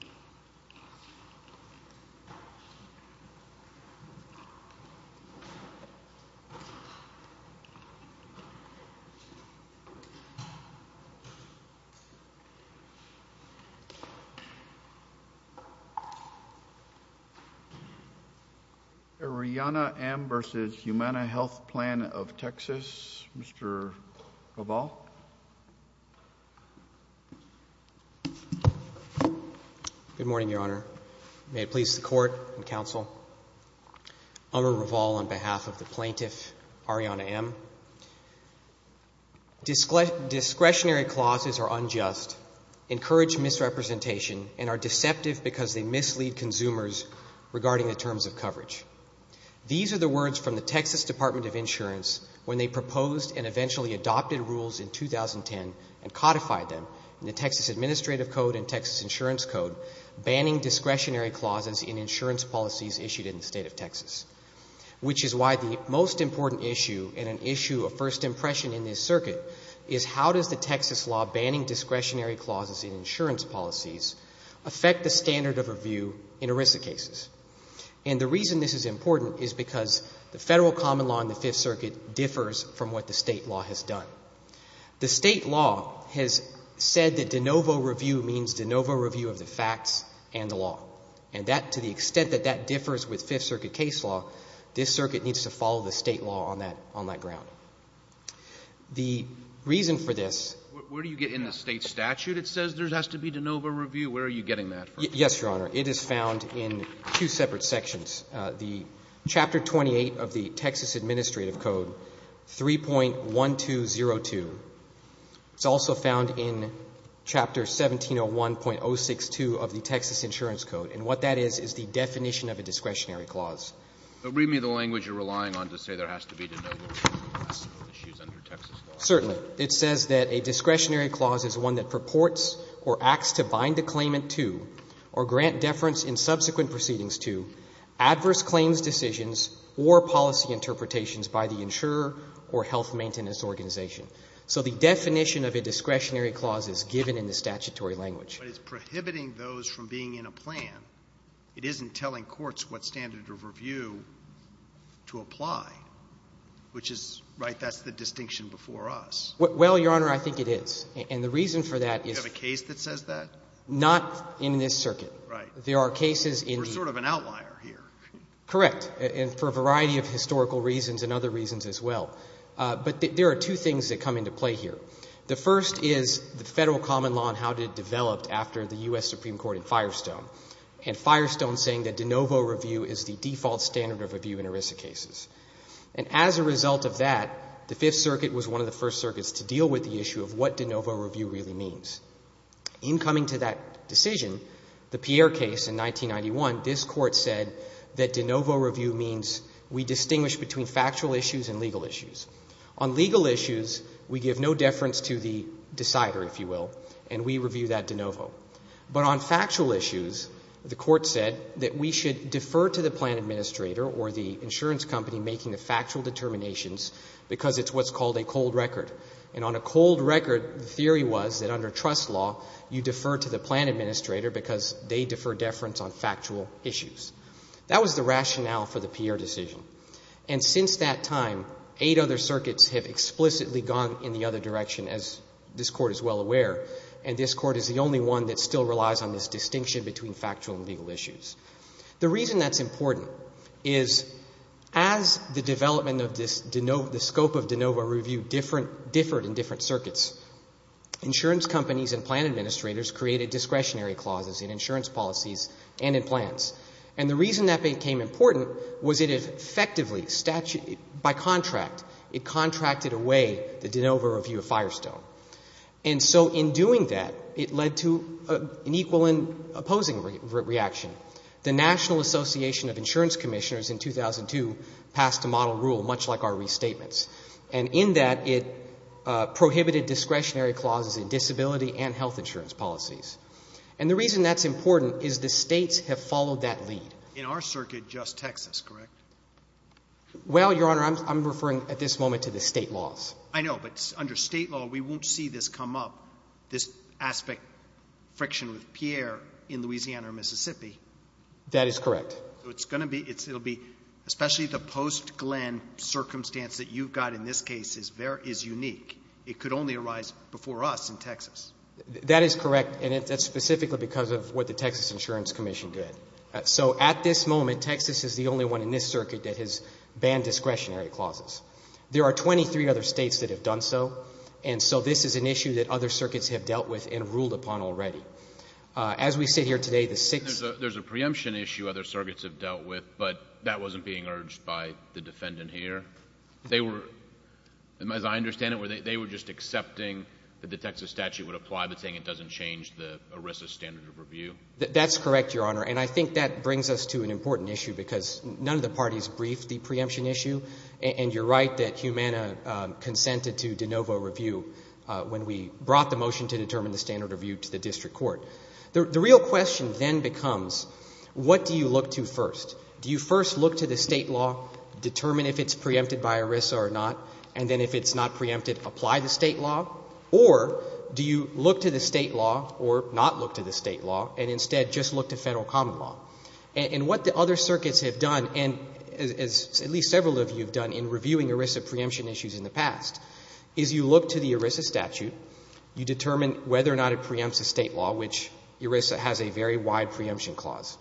for TexasüUrbanna. Royana M. v. Humana Health Plan of Texas U.S. Good morning, Your Honor. May it please the court and counsel. I'm a revolve on behalf of the plaintiff, Royana M. Discretionary clauses are unjust, encourage misrepresentation, and are deceptive because they mislead consumers regarding the terms of coverage. These are the words from the Texas Department of Insurance when they proposed and eventually adopted rules in 2010 and codified them in the Texas Administrative Code and Texas Insurance Code banning discretionary clauses in insurance policies issued in the state of Texas, which is why the most important issue in an issue of first impression in this circuit is how does the Texas law banning discretionary clauses in insurance policies affect the standard of review in ERISA cases? And the reason this is important is because the federal common law in the Fifth Circuit differs from what the state law has done. The state law has said that de novo review means de novo review of the facts and the law, and that to the extent that that differs with Fifth Circuit case law, this circuit needs to follow the state law on that ground. The reason for this. Where do you get in the state statute? It says there has to be de novo review. Where are you getting that from? Yes, Your Honor. It is found in two separate sections, the Chapter 28 of the Texas Administrative Code, 3.1202. It's also found in Chapter 1701.062 of the Texas Insurance Code, and what that is is the definition of a discretionary clause. But read me the language you're relying on to say there has to be de novo review. That's the issue under Texas law. Certainly. It says that a discretionary clause is one that purports or acts to bind a claimant to, or grant deference in subsequent proceedings to, adverse claims decisions or policy interpretations by the insurer or health maintenance organization. So the definition of a discretionary clause is given in the statutory language. But it's prohibiting those from being in a plan. It isn't telling courts what standard of review to apply, which is, right, that's the distinction before us. Well, Your Honor, I think it is. And the reason for that is. Do you have a case that says that? Not in this circuit. Right. There are cases in the. We're sort of an outlier here. Correct. And for a variety of historical reasons and other reasons as well. But there are two things that come into play here. The first is the federal common law and how it developed after the US Supreme Court in Firestone. And Firestone saying that de novo review is the default standard of review in ERISA cases. And as a result of that, the Fifth Circuit was one of the first circuits to deal with the issue of what de novo review really means. In coming to that decision, the Pierre case in 1991, this court said that de novo review means we distinguish between factual issues and legal issues. On legal issues, we give no deference to the decider, if you will. And we review that de novo. But on factual issues, the court said that we should defer to the plan administrator or the insurance company making the factual determinations because it's what's called a cold record. And on a cold record, the theory was that under trust law, you defer to the plan administrator because they defer deference on factual issues. That was the rationale for the Pierre decision. And since that time, eight other circuits have explicitly gone in the other direction, as this court is well aware. And this court is the only one that still relies on this distinction between factual and legal issues. The reason that's important is as the development of the scope of de novo review differed in different circuits, insurance companies and plan administrators created discretionary clauses in insurance policies and in plans. And the reason that became important was it effectively, by contract, it contracted away the de novo review of Firestone. And so in doing that, it led to an equal and opposing reaction. The National Association of Insurance Commissioners in 2002 passed a model rule, much like our restatements. And in that, it prohibited discretionary clauses in disability and health insurance policies. And the reason that's important is the states have followed that lead. In our circuit, just Texas, correct? Well, Your Honor, I'm referring at this moment to the state laws. I know, but under state law, we won't see this come up, this aspect, friction with Pierre in Louisiana or Mississippi. That is correct. So it's going to be, especially the post Glenn circumstance that you've got in this case is unique. It could only arise before us in Texas. That is correct. And that's specifically because of what the Texas Insurance Commission did. So at this moment, Texas is the only one in this circuit that has banned discretionary clauses. There are 23 other states that have done so. And so this is an issue that other circuits have dealt with and ruled upon already. As we sit here today, the six- There's a preemption issue other circuits have dealt with, but that wasn't being urged by the defendant here. They were, as I understand it, they were just accepting that the Texas statute would apply, but saying it doesn't change the ERISA standard of review. That's correct, Your Honor. And I think that brings us to an important issue because none of the parties briefed the preemption issue. And you're right that Humana consented to de novo review when we brought the motion to determine the standard review to the district court. The real question then becomes, what do you look to first? Do you first look to the state law, determine if it's preempted by ERISA or not, and then if it's not preempted, apply the state law? Or do you look to the state law or not look to the state law and instead just look to Federal common law? And what the other circuits have done, and as at least several of you have done in reviewing ERISA preemption issues in the past, is you look to the ERISA statute. You determine whether or not it preempts the state law, which ERISA has a very wide preemption clause.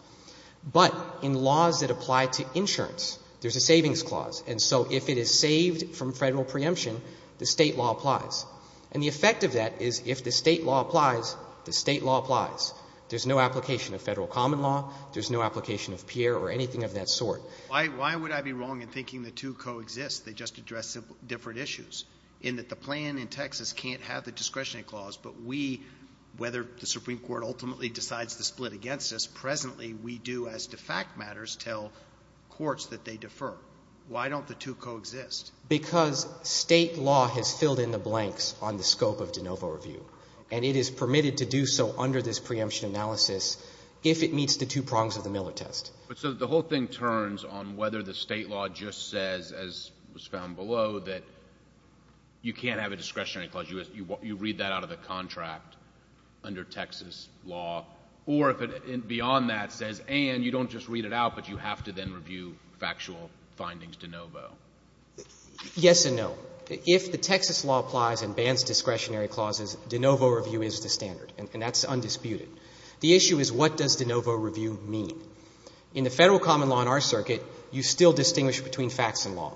But in laws that apply to insurance, there's a savings clause. And so if it is saved from Federal preemption, the state law applies. And the effect of that is if the state law applies, the state law applies. There's no application of Federal common law. There's no application of Pierre or anything of that sort. Why would I be wrong in thinking the two coexist? They just address different issues, in that the plan in Texas can't have the discretionary clause. But we, whether the Supreme Court ultimately decides to split against us, presently we do, as to fact matters, tell courts that they defer. Why don't the two coexist? Because state law has filled in the blanks on the scope of de novo review. And it is permitted to do so under this preemption analysis if it meets the two prongs of the Miller test. So the whole thing turns on whether the state law just says, as was found below, that you can't have a discretionary clause. You read that out of the contract under Texas law. Or if it, beyond that, says, and you don't just read it out, but you have to then review factual findings de novo. Yes and no. If the Texas law applies and bans discretionary clauses, de novo review is the standard. And that's undisputed. The issue is, what does de novo review mean? In the Federal common law in our circuit, you still distinguish between facts and law.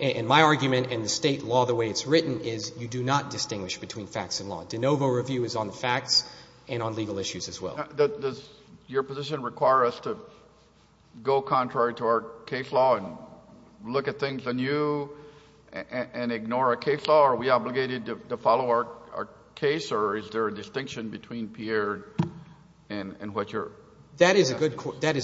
And my argument, and the state law, the way it's written, is you do not distinguish between facts and law. De novo review is on the facts and on legal issues as well. Does your position require us to go contrary to our case law and look at things anew and ignore a case law? Are we obligated to follow our case? Or is there a distinction between Pierre and what you're? That is a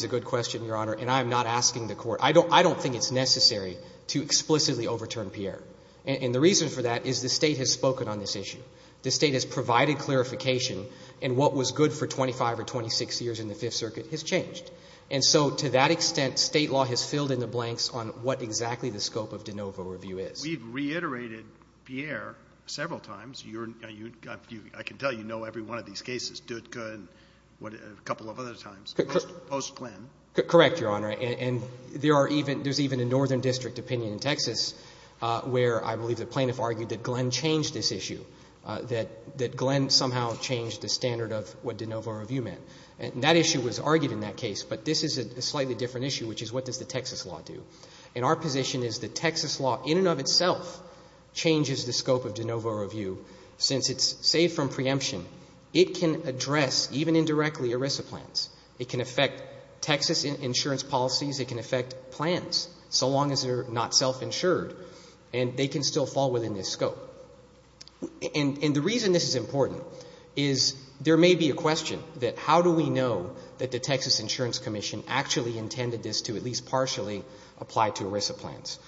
good question, Your Honor. And I'm not asking the court. I don't think it's necessary to explicitly overturn Pierre. And the reason for that is the state has spoken on this issue. The state has provided clarification and what was good for 25 or 26 years in the Fifth Circuit has changed. And so to that extent, state law has filled in the blanks on what exactly the scope of de novo review is. We've reiterated Pierre several times. I can tell you know every one of these cases, Dutka and a couple of other times, post-Glenn. Correct, Your Honor. And there's even a northern district opinion in Texas where I believe the plaintiff argued that Glenn changed this issue, that Glenn somehow changed the standard of what de novo review meant. And that issue was argued in that case. But this is a slightly different issue, which is what does the Texas law do? And our position is that Texas law, in and of itself, changes the scope of de novo review since it's saved from preemption. It can address, even indirectly, ERISA plans. It can affect Texas insurance policies. It can affect plans, so long as they're not self-insured. And they can still fall within this scope. And the reason this is important is there may be a question that how do we know that the Texas Insurance Commission actually intended this to at least partially apply to ERISA plans?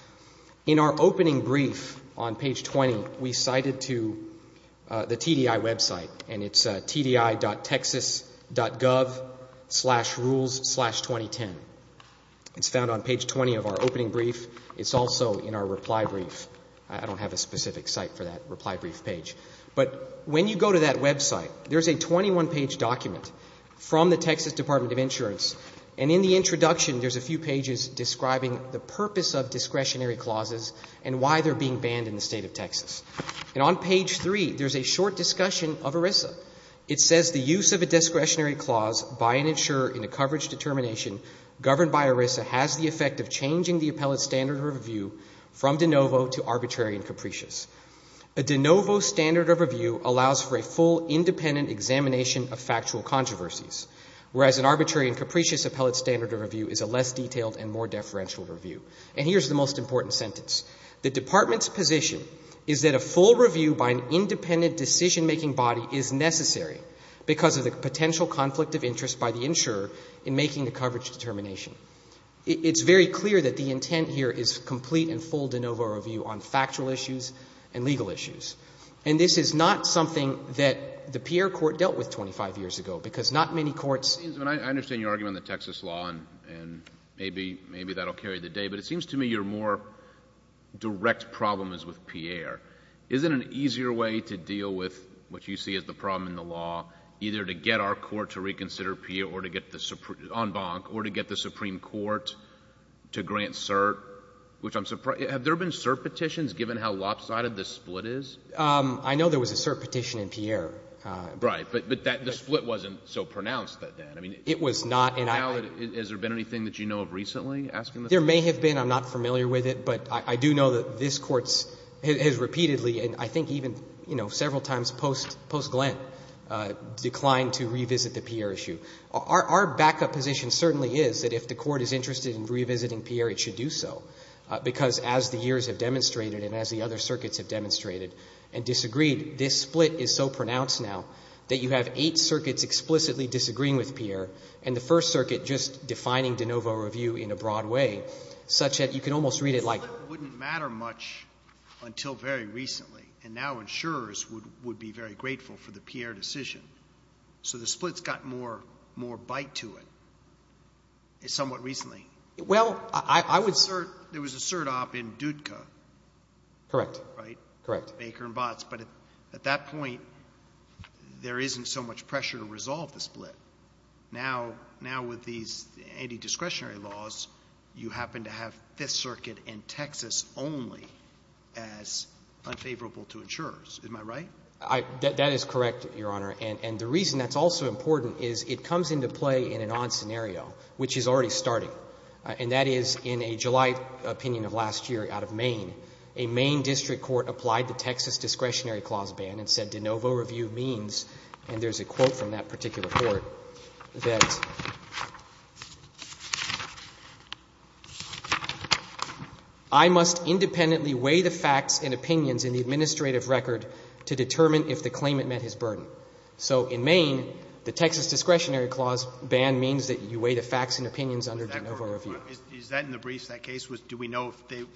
In our opening brief on page 20, we cited to the TDI website, and it's tdi.texas.gov slash rules slash 2010. It's found on page 20 of our opening brief. It's also in our reply brief. I don't have a specific site for that reply brief page. But when you go to that website, there's a 21-page document from the Texas Department of Insurance. And in the introduction, there's a few pages describing the purpose of discretionary clauses and why they're being banned in the state of Texas. And on page three, there's a short discussion of ERISA. It says the use of a discretionary clause by an insurer in a coverage determination governed by ERISA has the effect of changing the appellate standard of review from de novo to arbitrary and capricious. A de novo standard of review allows for a full independent examination of factual controversies, whereas an arbitrary and capricious appellate standard of review is a less detailed and more deferential review. And here's the most important sentence. The department's position is that a full review by an independent decision-making body is necessary because of the potential conflict of interest by the insurer in making the coverage determination. It's very clear that the intent here is complete and full de novo review on factual issues and legal issues. And this is not something that the Pierre Court dealt with 25 years ago, because not many courts... I understand your argument on the Texas law, and maybe that'll carry the day, but it seems to me your more direct problem is with Pierre. Isn't an easier way to deal with what you see as the problem in the law either to get our court to reconsider Pierre or to get the Supreme Court to grant cert, which I'm surprised... Have there been cert petitions given how lopsided the split is? I know there was a cert petition in Pierre. Right, but the split wasn't so pronounced then. It was not. Has there been anything that you know of recently? There may have been, I'm not familiar with it, but I do know that this court has repeatedly, and I think even several times post-Glenn, declined to revisit the Pierre issue. Our backup position certainly is that if the court is interested in revisiting Pierre, it should do so, because as the years have demonstrated and as the other circuits have demonstrated and disagreed, this split is so pronounced now that you have eight circuits explicitly disagreeing with Pierre, and the first circuit just defining de novo review in a broad way, such that you can almost read it like... It wouldn't matter much until very recently, and now insurers would be very grateful for the Pierre decision. So the split's got more bite to it, somewhat recently. Well, I would... There was a cert op in DUDCA. Correct, correct. Baker and Botts, but at that point, there isn't so much pressure to resolve the split. Now, with these anti-discretionary laws, you happen to have Fifth Circuit and Texas only as unfavorable to insurers. Am I right? That is correct, Your Honor, and the reason that's also important is it comes into play in an odd scenario, which is already starting, and that is in a July opinion of last year out of Maine, a Maine district court applied the Texas discretionary clause ban and said de novo review means, and there's a quote from that particular court, that... I must independently weigh the facts and opinions in the administrative record to determine if the claimant met his burden. So in Maine, the Texas discretionary clause ban means that you weigh the facts and opinions under de novo review. Is that in the briefs that case was, do we know if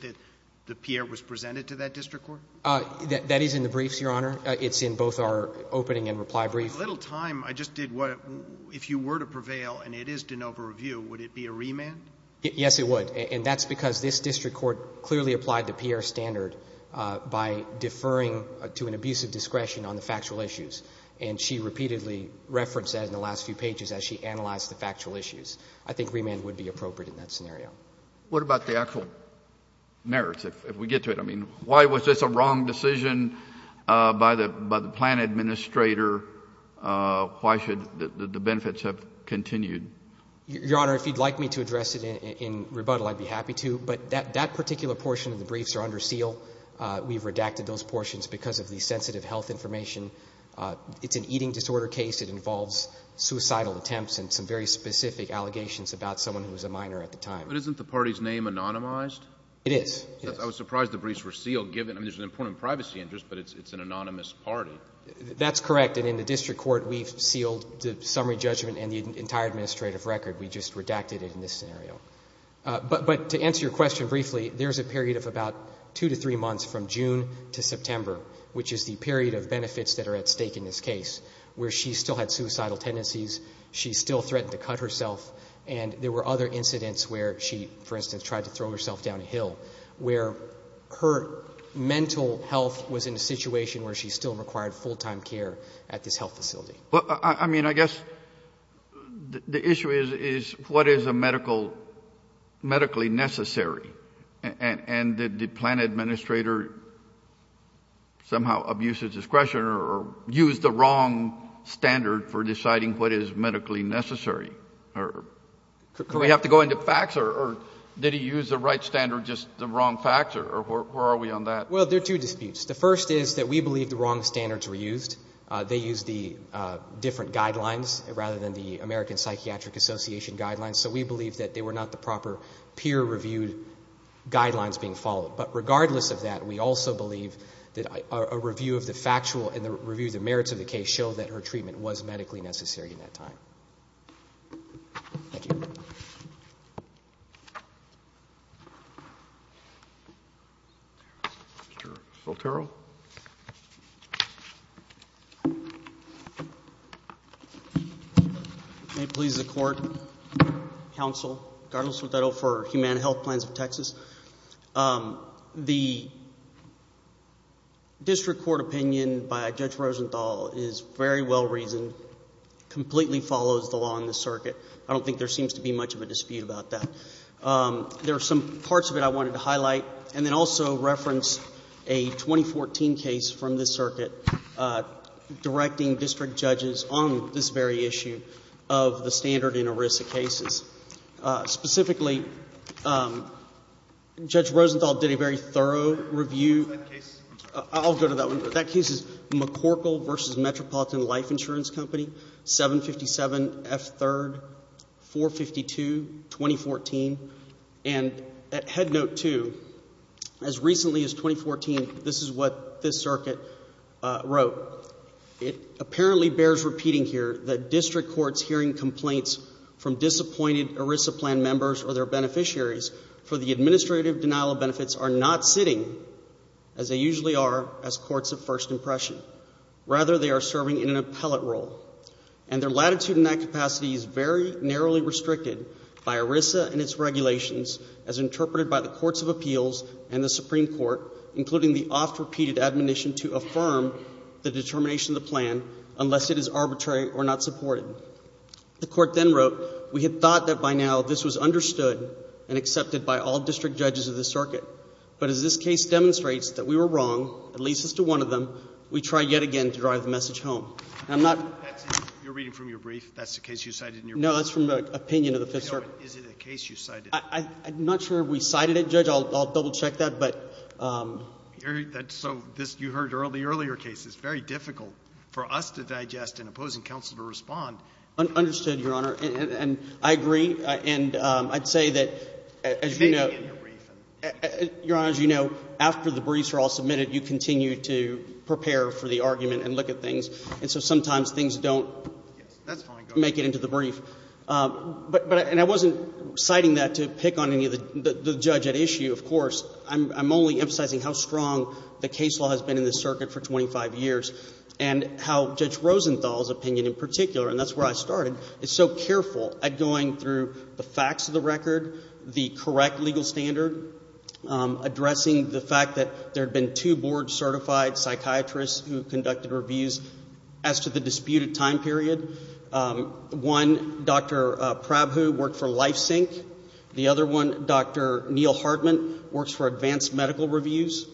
the Pierre was presented to that district court? That is in the briefs, Your Honor. It's in both our opening and reply brief. A little time, I just did what, if you were to prevail and it is de novo review, would it be a remand? Yes, it would, and that's because this district court clearly applied the Pierre standard by deferring to an abusive discretion on the factual issues. And she repeatedly referenced that in the last few pages as she analyzed the factual issues. I think remand would be appropriate in that scenario. What about the actual merits? If we get to it, I mean, why was this a wrong decision by the plan administrator? Why should the benefits have continued? Your Honor, if you'd like me to address it in rebuttal, I'd be happy to, but that particular portion of the briefs are under seal. We've redacted those portions because of the sensitive health information. It's an eating disorder case. It involves suicidal attempts and some very specific allegations about someone who was a minor at the time. But isn't the party's name anonymized? It is. I was surprised the briefs were sealed, given there's an important privacy interest, but it's an anonymous party. That's correct, and in the district court, we've sealed the summary judgment and the entire administrative record. We just redacted it in this scenario. But to answer your question briefly, there's a period of about two to three months from June to September, which is the period of benefits that are at stake in this case, where she still had suicidal tendencies, she still threatened to cut herself, and there were other incidents where she, for instance, tried to throw herself down a hill, where her mental health was in a situation where she still required full-time care at this health facility. Well, I mean, I guess the issue is, what is medically necessary? And did the plan administrator somehow abuse his discretion or use the wrong standard for deciding what is medically necessary? Could we have to go into facts, or did he use the right standard, just the wrong facts, or where are we on that? Well, there are two disputes. The first is that we believe the wrong standards were used. They used the different guidelines, rather than the American Psychiatric Association guidelines, so we believe that they were not the proper peer-reviewed guidelines being followed. But regardless of that, we also believe that a review of the factual and the review of the merits of the case show that her treatment was medically necessary in that time. Thank you. Mr. Volterro? May it please the court, counsel, Carlos Volterro for Human Health Plans of Texas. The district court opinion by Judge Rosenthal is very well-reasoned, completely follows the law in this circuit. I don't think there seems to be much of a dispute about that. There are some parts of it I wanted to highlight, and then also reference a 2014 case from this circuit directing district judges on this very issue of the standard in ERISA cases. Specifically, Judge Rosenthal did a very thorough review. I'll go to that one. That case is McCorkle v. Metropolitan Life Insurance Company, 757 F. 3rd, 452, 2014. And at head note two, as recently as 2014, this is what this circuit wrote. It apparently bears repeating here that district courts hearing complaints from disappointed ERISA plan members or their beneficiaries for the administrative denial of benefits are not sitting, as they usually are, as courts of first impression. Rather, they are serving in an appellate role. And their latitude in that capacity is very narrowly restricted by ERISA and its regulations as interpreted by the courts of appeals and the Supreme Court, including the oft-repeated admonition to affirm the determination of the plan unless it is arbitrary or not supported. The court then wrote, we had thought that by now this was understood and accepted by all district judges of the circuit. But as this case demonstrates that we were wrong, at least as to one of them, we try yet again to drive the message home. And I'm not. You're reading from your brief. That's the case you cited in your brief. Is it a case you cited? I'm not sure we cited it, Judge. I'll double-check that, but. That's so, you heard the earlier case. It's very difficult for us to digest and opposing counsel to respond. Understood, Your Honor. And I agree. And I'd say that, as you know, Your Honor, as you know, after the briefs are all submitted, you continue to prepare for the argument and look at things. And so sometimes things don't make it into the brief. But, and I wasn't citing that to pick on any of the judge at issue, of course. I'm only emphasizing how strong the case law has been in the circuit for 25 years and how Judge Rosenthal's opinion in particular, and that's where I started, is so careful at going through the facts of the record, the correct legal standard, addressing the fact that there'd been two board-certified psychiatrists who conducted reviews as to the disputed time period. One, Dr. Prabhu, worked for LifeSync. The other one, Dr. Neil Hartman, works for Advanced Medical Reviews.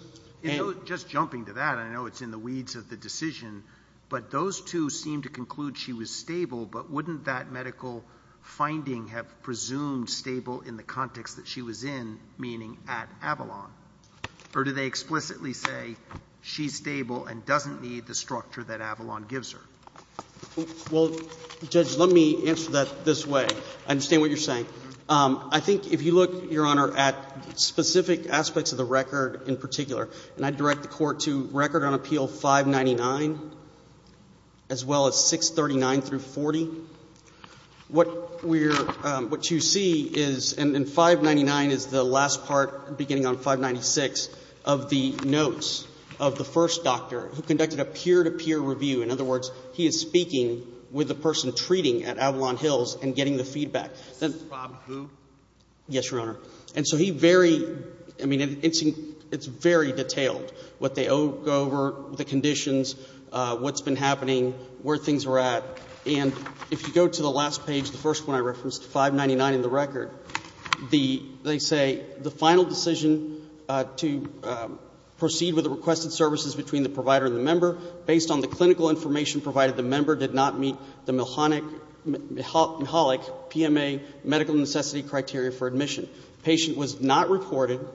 Just jumping to that, I know it's in the weeds of the decision, but those two seem to conclude she was stable, but wouldn't that medical finding have presumed stable in the context that she was in, meaning at Avalon? Or do they explicitly say she's stable and doesn't need the structure that Avalon gives her? Well, Judge, let me answer that this way. I understand what you're saying. I think if you look, Your Honor, at specific aspects of the record in particular, and I direct the court to record on appeal 599, as well as 639 through 40, what you see is, and 599 is the last part, beginning on 596, of the notes of the first doctor who conducted a peer-to-peer review. In other words, he is speaking with the person who was treating at Avalon Hills and getting the feedback. Is this Rob Hu? Yes, Your Honor. And so he very, I mean, it's very detailed, what they go over, the conditions, what's been happening, where things are at. And if you go to the last page, the first one I referenced, 599 in the record, they say, the final decision to proceed with the requested services between the provider and the member, based on the clinical information provided, the member did not meet the Mahalik PMA, medical necessity criteria for admission. Patient was not reported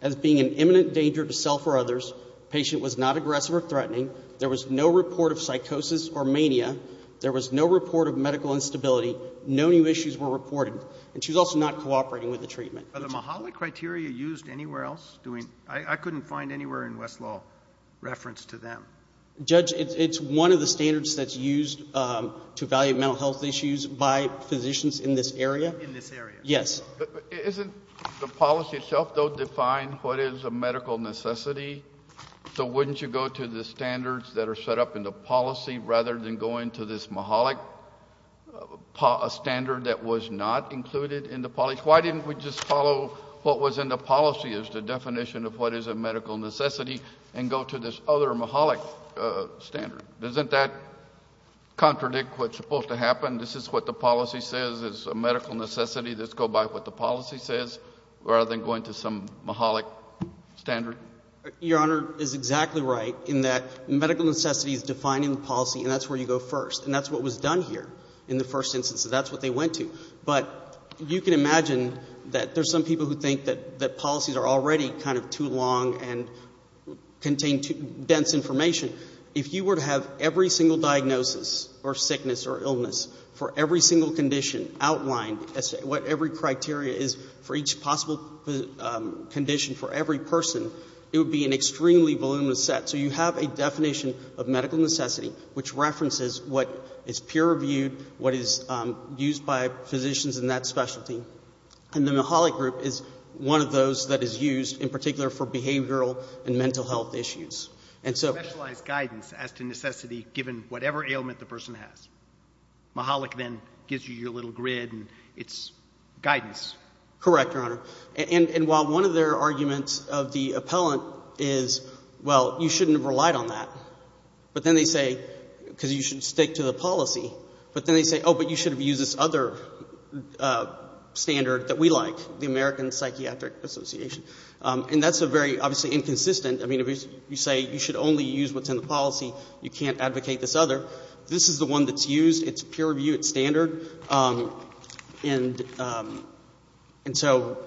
as being an imminent danger to self or others. Patient was not aggressive or threatening. There was no report of psychosis or mania. There was no report of medical instability. No new issues were reported. And she was also not cooperating with the treatment. Are the Mahalik criteria used anywhere else? I couldn't find anywhere in Westlaw reference to them. Judge, it's one of the standards that's used to evaluate mental health issues by physicians in this area. In this area? Yes. But isn't the policy itself, though, define what is a medical necessity? So wouldn't you go to the standards that are set up in the policy, rather than going to this Mahalik standard that was not included in the policy? Why didn't we just follow what was in the policy as the definition of what is a medical necessity and go to this other Mahalik standard? Doesn't that contradict what's supposed to happen? This is what the policy says is a medical necessity. Let's go by what the policy says, rather than going to some Mahalik standard? Your Honor is exactly right in that medical necessity is defined in the policy and that's where you go first. And that's what was done here in the first instance. That's what they went to. But you can imagine that there's some people who think that policies are already kind of too long and contain too dense information. If you were to have every single diagnosis or sickness or illness for every single condition outlined as what every criteria is for each possible condition for every person, it would be an extremely voluminous set. So you have a definition of medical necessity which references what is peer-reviewed, what is used by physicians in that specialty. And then the Mahalik group is one of those that is used in particular for behavioral and mental health issues. And so- Specialized guidance as to necessity given whatever ailment the person has. Mahalik then gives you your little grid and it's guidance. Correct, Your Honor. And while one of their arguments of the appellant is, well, you shouldn't have relied on that. But then they say, because you should stick to the policy. But then they say, oh, but you should have used this other standard that we like, the American Psychiatric Association. And that's a very, obviously, inconsistent. I mean, if you say you should only use what's in the policy, you can't advocate this other. This is the one that's used. It's peer-reviewed, it's standard. And so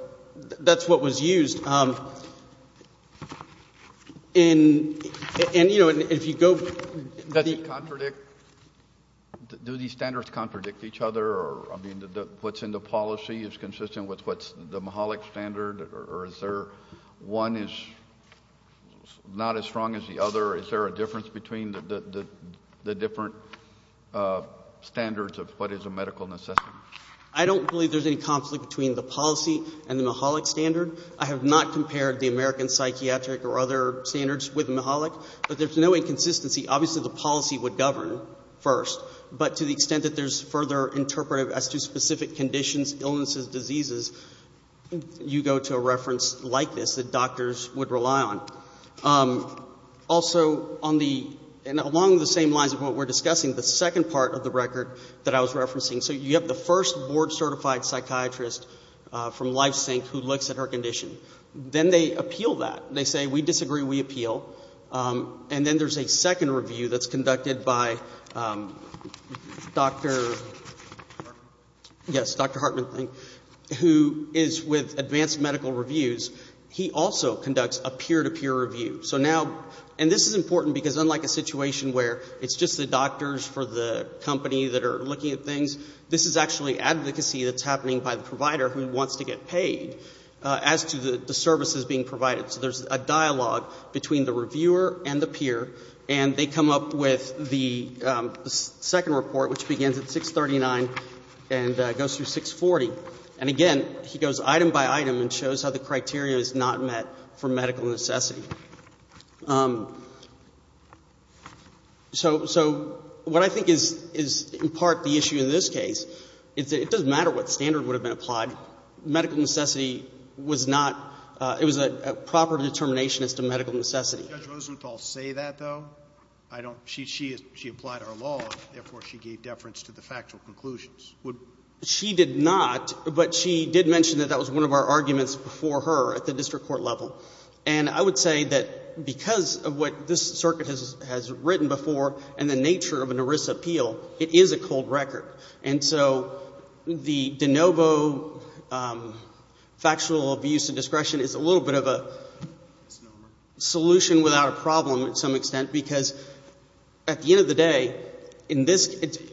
that's what was used. And, you know, if you go- Does it contradict, do these standards contradict each other or, I mean, what's in the policy is consistent with what's the Mahalik standard? Or is there one is not as strong as the other? Is there a difference between the different standards of what is a medical necessity? I don't believe there's any conflict between the policy and the Mahalik standard. I have not compared the American Psychiatric or other standards with Mahalik. But there's no inconsistency. Obviously, the policy would govern first. But to the extent that there's further interpretive as to specific conditions, illnesses, diseases, you go to a reference like this that doctors would rely on. Also, along the same lines of what we're discussing, the second part of the record that I was referencing. So you have the first board-certified psychiatrist from LifeSync who looks at her condition. Then they appeal that. They say, we disagree, we appeal. And then there's a second review that's conducted by Dr. Hartman, who is with Advanced Medical Reviews. He also conducts a peer-to-peer review. So now, and this is important because unlike a situation where it's just the doctors for the company that are looking at things, this is actually advocacy that's happening by the provider who wants to get paid as to the services being provided. So there's a dialogue between the reviewer and the peer. And they come up with the second report, which begins at 639 and goes through 640. And again, he goes item by item and shows how the criteria is not met for medical necessity. So what I think is, in part, the issue in this case, it doesn't matter what standard would have been applied. Medical necessity was not, it was a proper determination as to medical necessity. Did Judge Rosenthal say that, though? She applied our law, therefore she gave deference to the factual conclusions. She did not, but she did mention that that was one of our arguments before her at the district court level. And I would say that because of what this circuit has written before and the nature of an ERISA appeal, it is a cold record. And so the de novo factual abuse and discretion is a little bit of a solution without a problem to some extent. Because at the end of the day,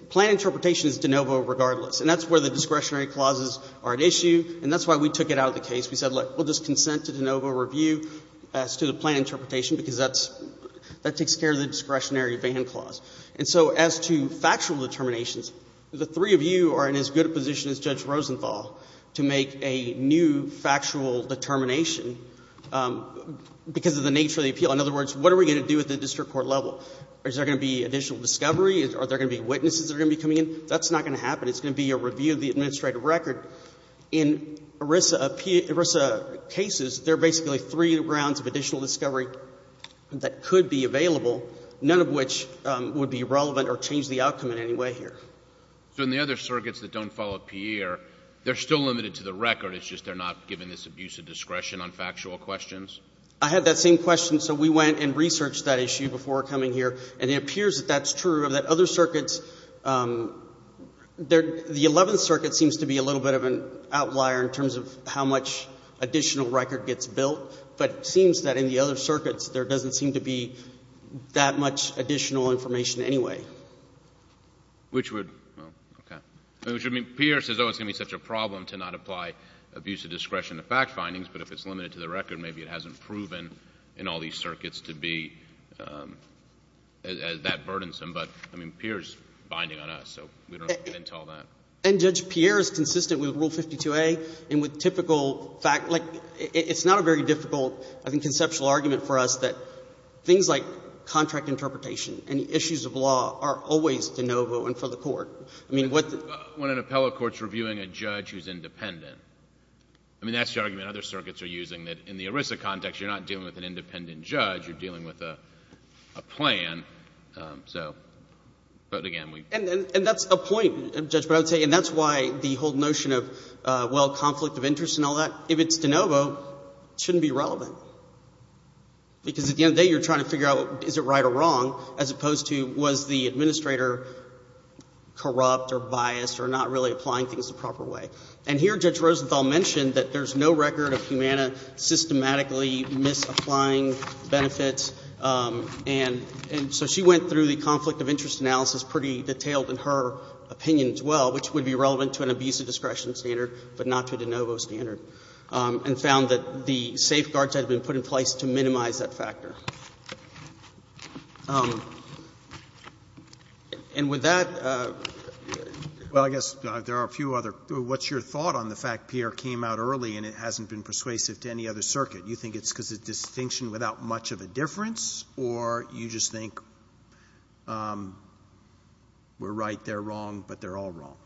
plan interpretation is de novo regardless. And that's where the discretionary clauses are at issue. And that's why we took it out of the case. We said, look, we'll just consent to de novo review as to the plan interpretation, because that takes care of the discretionary ban clause. And so as to factual determinations, the three of you are in as good a position as Judge Rosenthal to make a new factual determination because of the nature of the appeal. In other words, what are we going to do at the district court level? Is there going to be additional discovery? Are there going to be witnesses that are going to be coming in? That's not going to happen. It's going to be a review of the administrative record. In ERISA cases, there are basically three rounds of additional discovery that could be available, none of which would be relevant or change the outcome in any way here. So in the other circuits that don't follow PEIR, they're still limited to the record. It's just they're not given this abuse of discretion on factual questions? I had that same question. So we went and researched that issue before coming here. And it appears that that's true, that other circuits, the 11th circuit seems to be a little bit of an outlier in terms of how much additional record gets built. But it seems that in the other circuits, there doesn't seem to be that much additional information anyway. Which would, well, OK. I mean, PEIR says, oh, it's going to be such a problem to not apply abuse of discretion to fact findings. But if it's limited to the record, maybe it hasn't proven in all these circuits to be that burdensome. But I mean, PEIR's binding on us, so we don't have to get into all that. And Judge PEIR is consistent with Rule 52a and with typical fact. Like, it's not a very difficult, I think, conceptual argument for us that things like contract interpretation and issues of law are always de novo and for the court. I mean, what the? When an appellate court's reviewing a judge who's independent. I mean, that's the argument other circuits are using, that in the ERISA context, you're not dealing with an independent judge. You're dealing with a plan. So, but again, we. And that's a point, Judge, but I would say, and that's why the whole notion of, well, conflict of interest and all that, if it's de novo, shouldn't be relevant. Because at the end of the day, you're trying to figure out is it right or wrong, as opposed to was the administrator corrupt or biased or not really applying things the proper way. And here, Judge Rosenthal mentioned that there's no record of Humana systematically misapplying benefits. And so she went through the conflict of interest analysis pretty detailed in her opinion as well, which would be relevant to an abusive discretion standard, but not to de novo standard, and found that the safeguards had been put in place to minimize that factor. And with that. Well, I guess there are a few other. What's your thought on the fact Pierre came out early and it hasn't been persuasive to any other circuit? You think it's because of distinction without much of a difference? Or you just think we're right, they're wrong, but they're all wrong?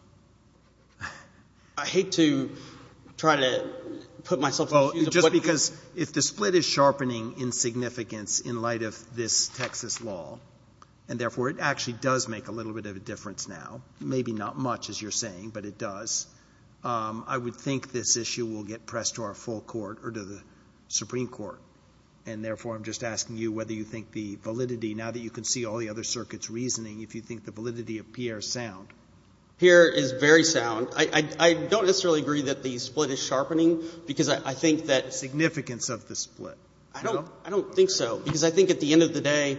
I hate to try to put myself in the shoes of what. Because if the split is sharpening insignificance in light of this Texas law, and therefore it actually does make a little bit of a difference now, maybe not much as you're saying, but it does, I would think this issue will get pressed to our full court or to the Supreme Court. And therefore, I'm just asking you whether you think the validity, now that you can see all the other circuit's reasoning, if you think the validity of Pierre is sound. Pierre is very sound. I don't necessarily agree that the split is sharpening, because I think that. Significance of the split? I don't think so. Because I think at the end of the day,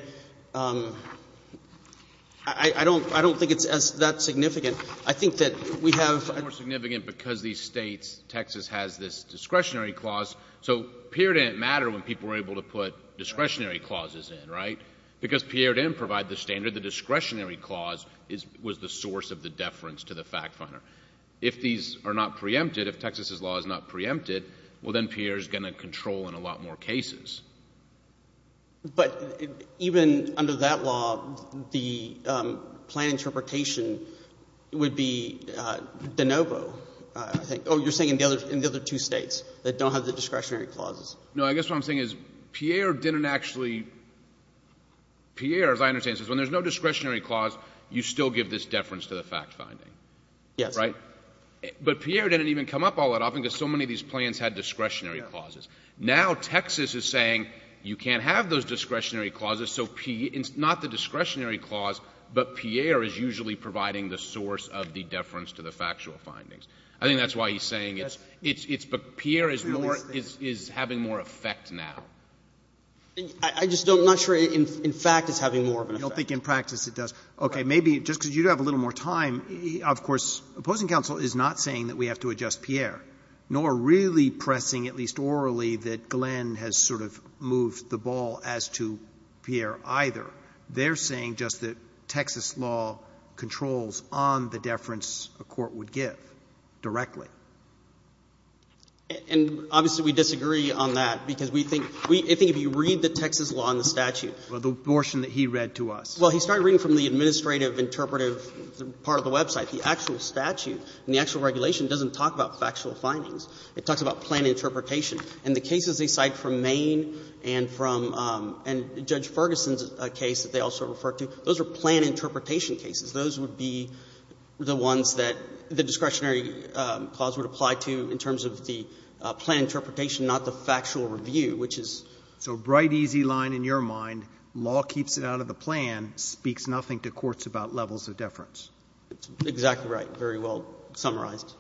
I don't think it's that significant. I think that we have. It's more significant because these states, Texas has this discretionary clause. So Pierre didn't matter when people were able to put discretionary clauses in, right? Because Pierre didn't provide the standard. The discretionary clause was the source of the deference to the fact finder. If these are not preempted, if Texas's law is not preempted, well, then Pierre is going to control in a lot more cases. But even under that law, the plan interpretation would be de novo, I think. Oh, you're saying in the other two states that don't have the discretionary clauses. No, I guess what I'm saying is Pierre didn't actually, Pierre, as I understand, says when there's no discretionary clause, you still give this deference to the fact finding. Yes. But Pierre didn't even come up all that often, because so many of these plans had discretionary clauses. Now Texas is saying you can't have those discretionary clauses, so it's not the discretionary clause, but Pierre is usually providing the source of the deference to the factual findings. I think that's why he's saying it's, but Pierre is more, is having more effect now. I just don't, I'm not sure in fact it's having more of an effect. I don't think in practice it does. OK, maybe just because you have a little more time, of course, opposing counsel is not saying that we have to adjust Pierre, nor really pressing, at least orally, that Glenn has sort of moved the ball as to Pierre either. They're saying just that Texas law controls on the deference a court would give directly. And obviously we disagree on that, because we think if you read the Texas law and the statute. Well, the portion that he read to us. Well, he started reading from the administrative interpretive part of the website. The actual statute and the actual regulation doesn't talk about factual findings. It talks about planned interpretation. And the cases they cite from Maine and from, and Judge Ferguson's case that they also refer to, those are planned interpretation cases. Those would be the ones that the discretionary clause would apply to in terms of the planned interpretation, not the factual review, which is. So bright, easy line in your mind, law keeps it out of the plan, speaks nothing to courts about levels of deference. Exactly right. Very well summarized.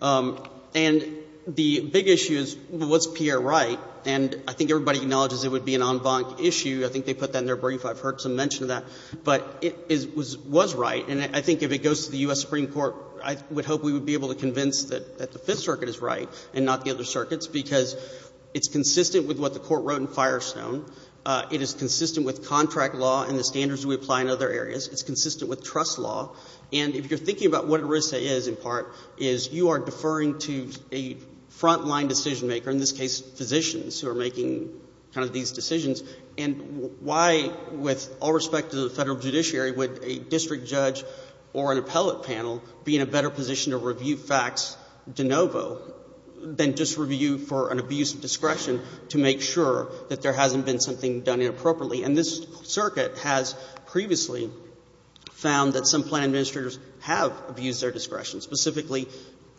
And the big issue is, was Pierre right? And I think everybody acknowledges it would be an en banc issue. I think they put that in their brief. I've heard some mention of that. But it was right. And I think if it goes to the US Supreme Court, I would hope we would be able to convince that the Fifth Circuit is right and not the other circuits. Because it's consistent with what the court wrote in Firestone. It is consistent with contract law and the standards we apply in other areas. It's consistent with trust law. And if you're thinking about what ERISA is, in part, is you are deferring to a frontline decision-maker, in this case, physicians, who are making these decisions. And why, with all respect to the federal judiciary, would a district judge or an appellate panel be in a better position to review facts de novo than just review for an abuse of discretion to make sure that there hasn't been something done inappropriately? And this circuit has previously found that some plan administrators have abused their discretion, specifically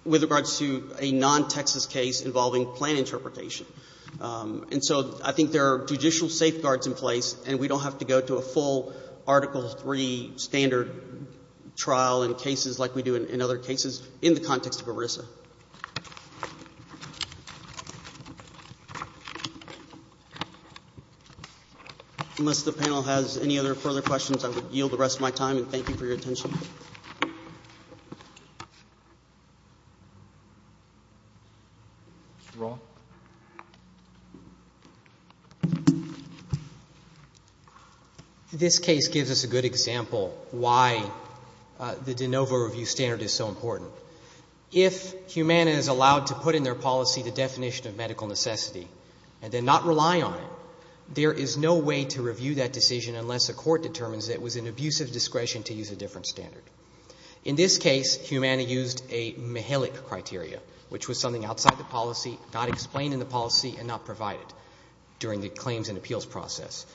with regards to a non-Texas case involving plan interpretation. And so I think there are judicial safeguards in place. And we don't have to go to a full Article III standard trial in cases like we do in other cases in the context of ERISA. Unless the panel has any other further questions, I will yield the rest of my time. And thank you for your attention. This case gives us a good example why the de novo review standard is so important. If Humana is allowed to put in their policy the definition of medical necessity and then not rely on it, there is no way to review that decision unless a court determines that it was an abuse of discretion to use a different standard. In this case, Humana used a Mihelic criteria, which was something outside the policy, not explained in the policy, and not provided during the claims and appeals process.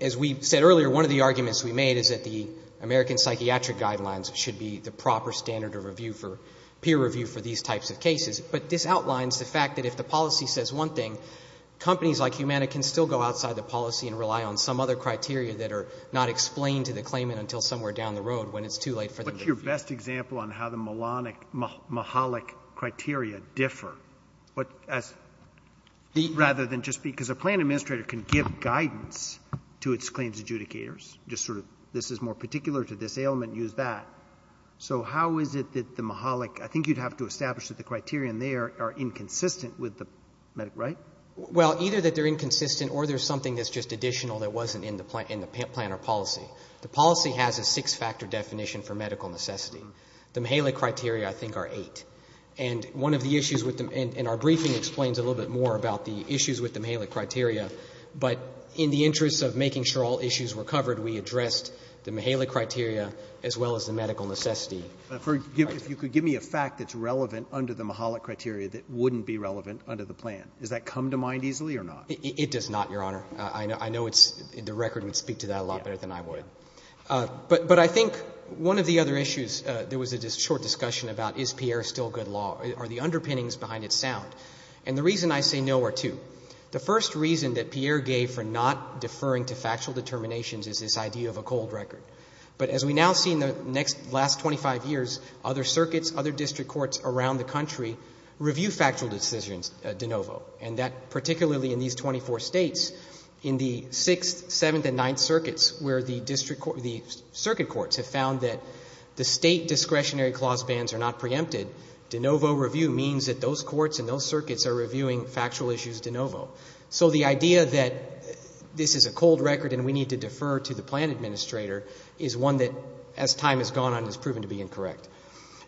As we said earlier, one of the arguments we made is that the American psychiatric guidelines should be the proper standard of peer review for these types of cases. But this outlines the fact that if the policy says one thing, companies like Humana can still go outside the policy and rely on some other criteria that are not explained to the claimant until somewhere down the road when it's too late for them to review. What's your best example on how the Mihelic criteria differ? Rather than just because a plan administrator can give guidance to its claims adjudicators, just sort of this is more particular to this ailment, use that. So how is it that the Mihelic, I think you'd have to establish that the criteria in there are inconsistent with the right? Well, either that they're inconsistent, or there's something that's just additional that wasn't in the plan or policy. The policy has a six-factor definition for medical necessity. The Mihelic criteria, I think, are eight. And one of the issues with them, and our briefing explains a little bit more about the issues with the Mihelic criteria. But in the interest of making sure all issues were covered, as the medical necessity. If you could give me a fact that's relevant under the Mihelic criteria that wouldn't be relevant under the plan. Does that come to mind easily or not? It does not, Your Honor. I know the record would speak to that a lot better than I would. But I think one of the other issues, there was a short discussion about is Pierre still good law? Are the underpinnings behind it sound? And the reason I say no are two. The first reason that Pierre gave for not deferring to factual determinations is this idea of a cold record. But as we now see in the last 25 years, other circuits, other district courts around the country review factual decisions de novo. And that particularly in these 24 states, in the 6th, 7th, and 9th circuits where the circuit courts have found that the state discretionary clause bans are not preempted, de novo review means that those courts and those circuits are reviewing factual issues de novo. So the idea that this is a cold record and we need to defer to the plan administrator is one that as time has gone on has proven to be incorrect.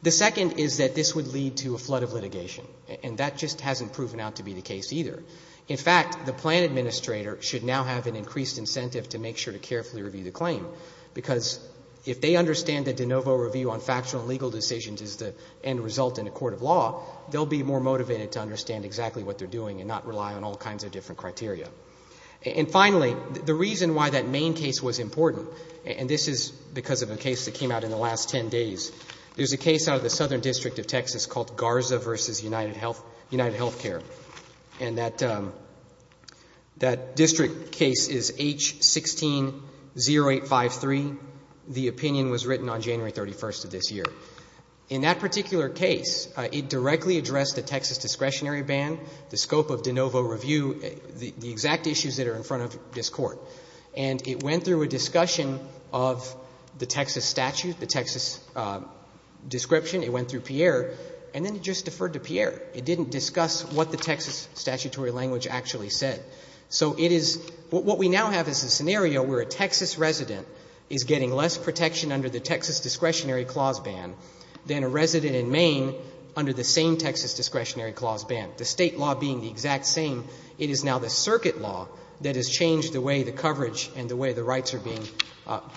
The second is that this would lead to a flood of litigation. And that just hasn't proven out to be the case either. In fact, the plan administrator should now have an increased incentive to make sure to carefully review the claim. Because if they understand that de novo review on factual and legal decisions is the end result in a court of law, they'll be more motivated to understand exactly what they're doing and not rely on all kinds of different criteria. And finally, the reason why that main case was important, and this is because of a case that came out in the last 10 days, there's a case out of the Southern District of Texas called Garza v. United Health, United Health Care. And that district case is H-160853. The opinion was written on January 31st of this year. In that particular case, it directly addressed the Texas discretionary ban, the scope of de novo review, the exact issues that are in front of this court. And it went through a discussion of the Texas statute, the Texas description, it went through Pierre, and then it just deferred to Pierre. It didn't discuss what the Texas statutory language actually said. So it is, what we now have is a scenario where a Texas resident is getting less protection under the Texas discretionary clause ban than a resident in Maine under the same Texas discretionary clause ban. The state law being the exact same, it is now the circuit law that has changed the way the coverage and the way the rights are being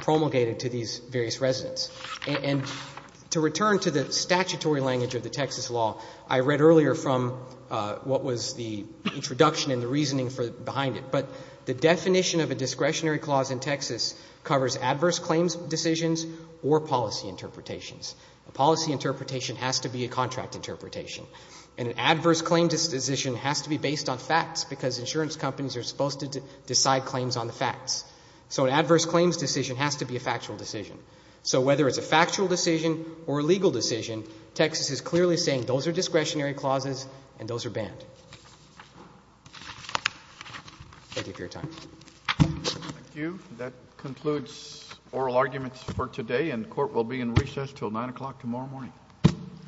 promulgated to these various residents. And to return to the statutory language of the Texas law, I read earlier from what was the introduction and the reasoning behind it. But the definition of a discretionary clause in Texas covers adverse claims decisions or policy interpretations. A policy interpretation has to be a contract interpretation. And an adverse claim decision has to be based on facts because insurance companies are supposed to decide claims on the facts. So an adverse claims decision has to be a factual decision. So whether it's a factual decision or a legal decision, Texas is clearly saying those are discretionary clauses and those are banned. Thank you for your time. Thank you. That concludes oral arguments for today and court will be in recess till nine o'clock tomorrow morning. Thank you.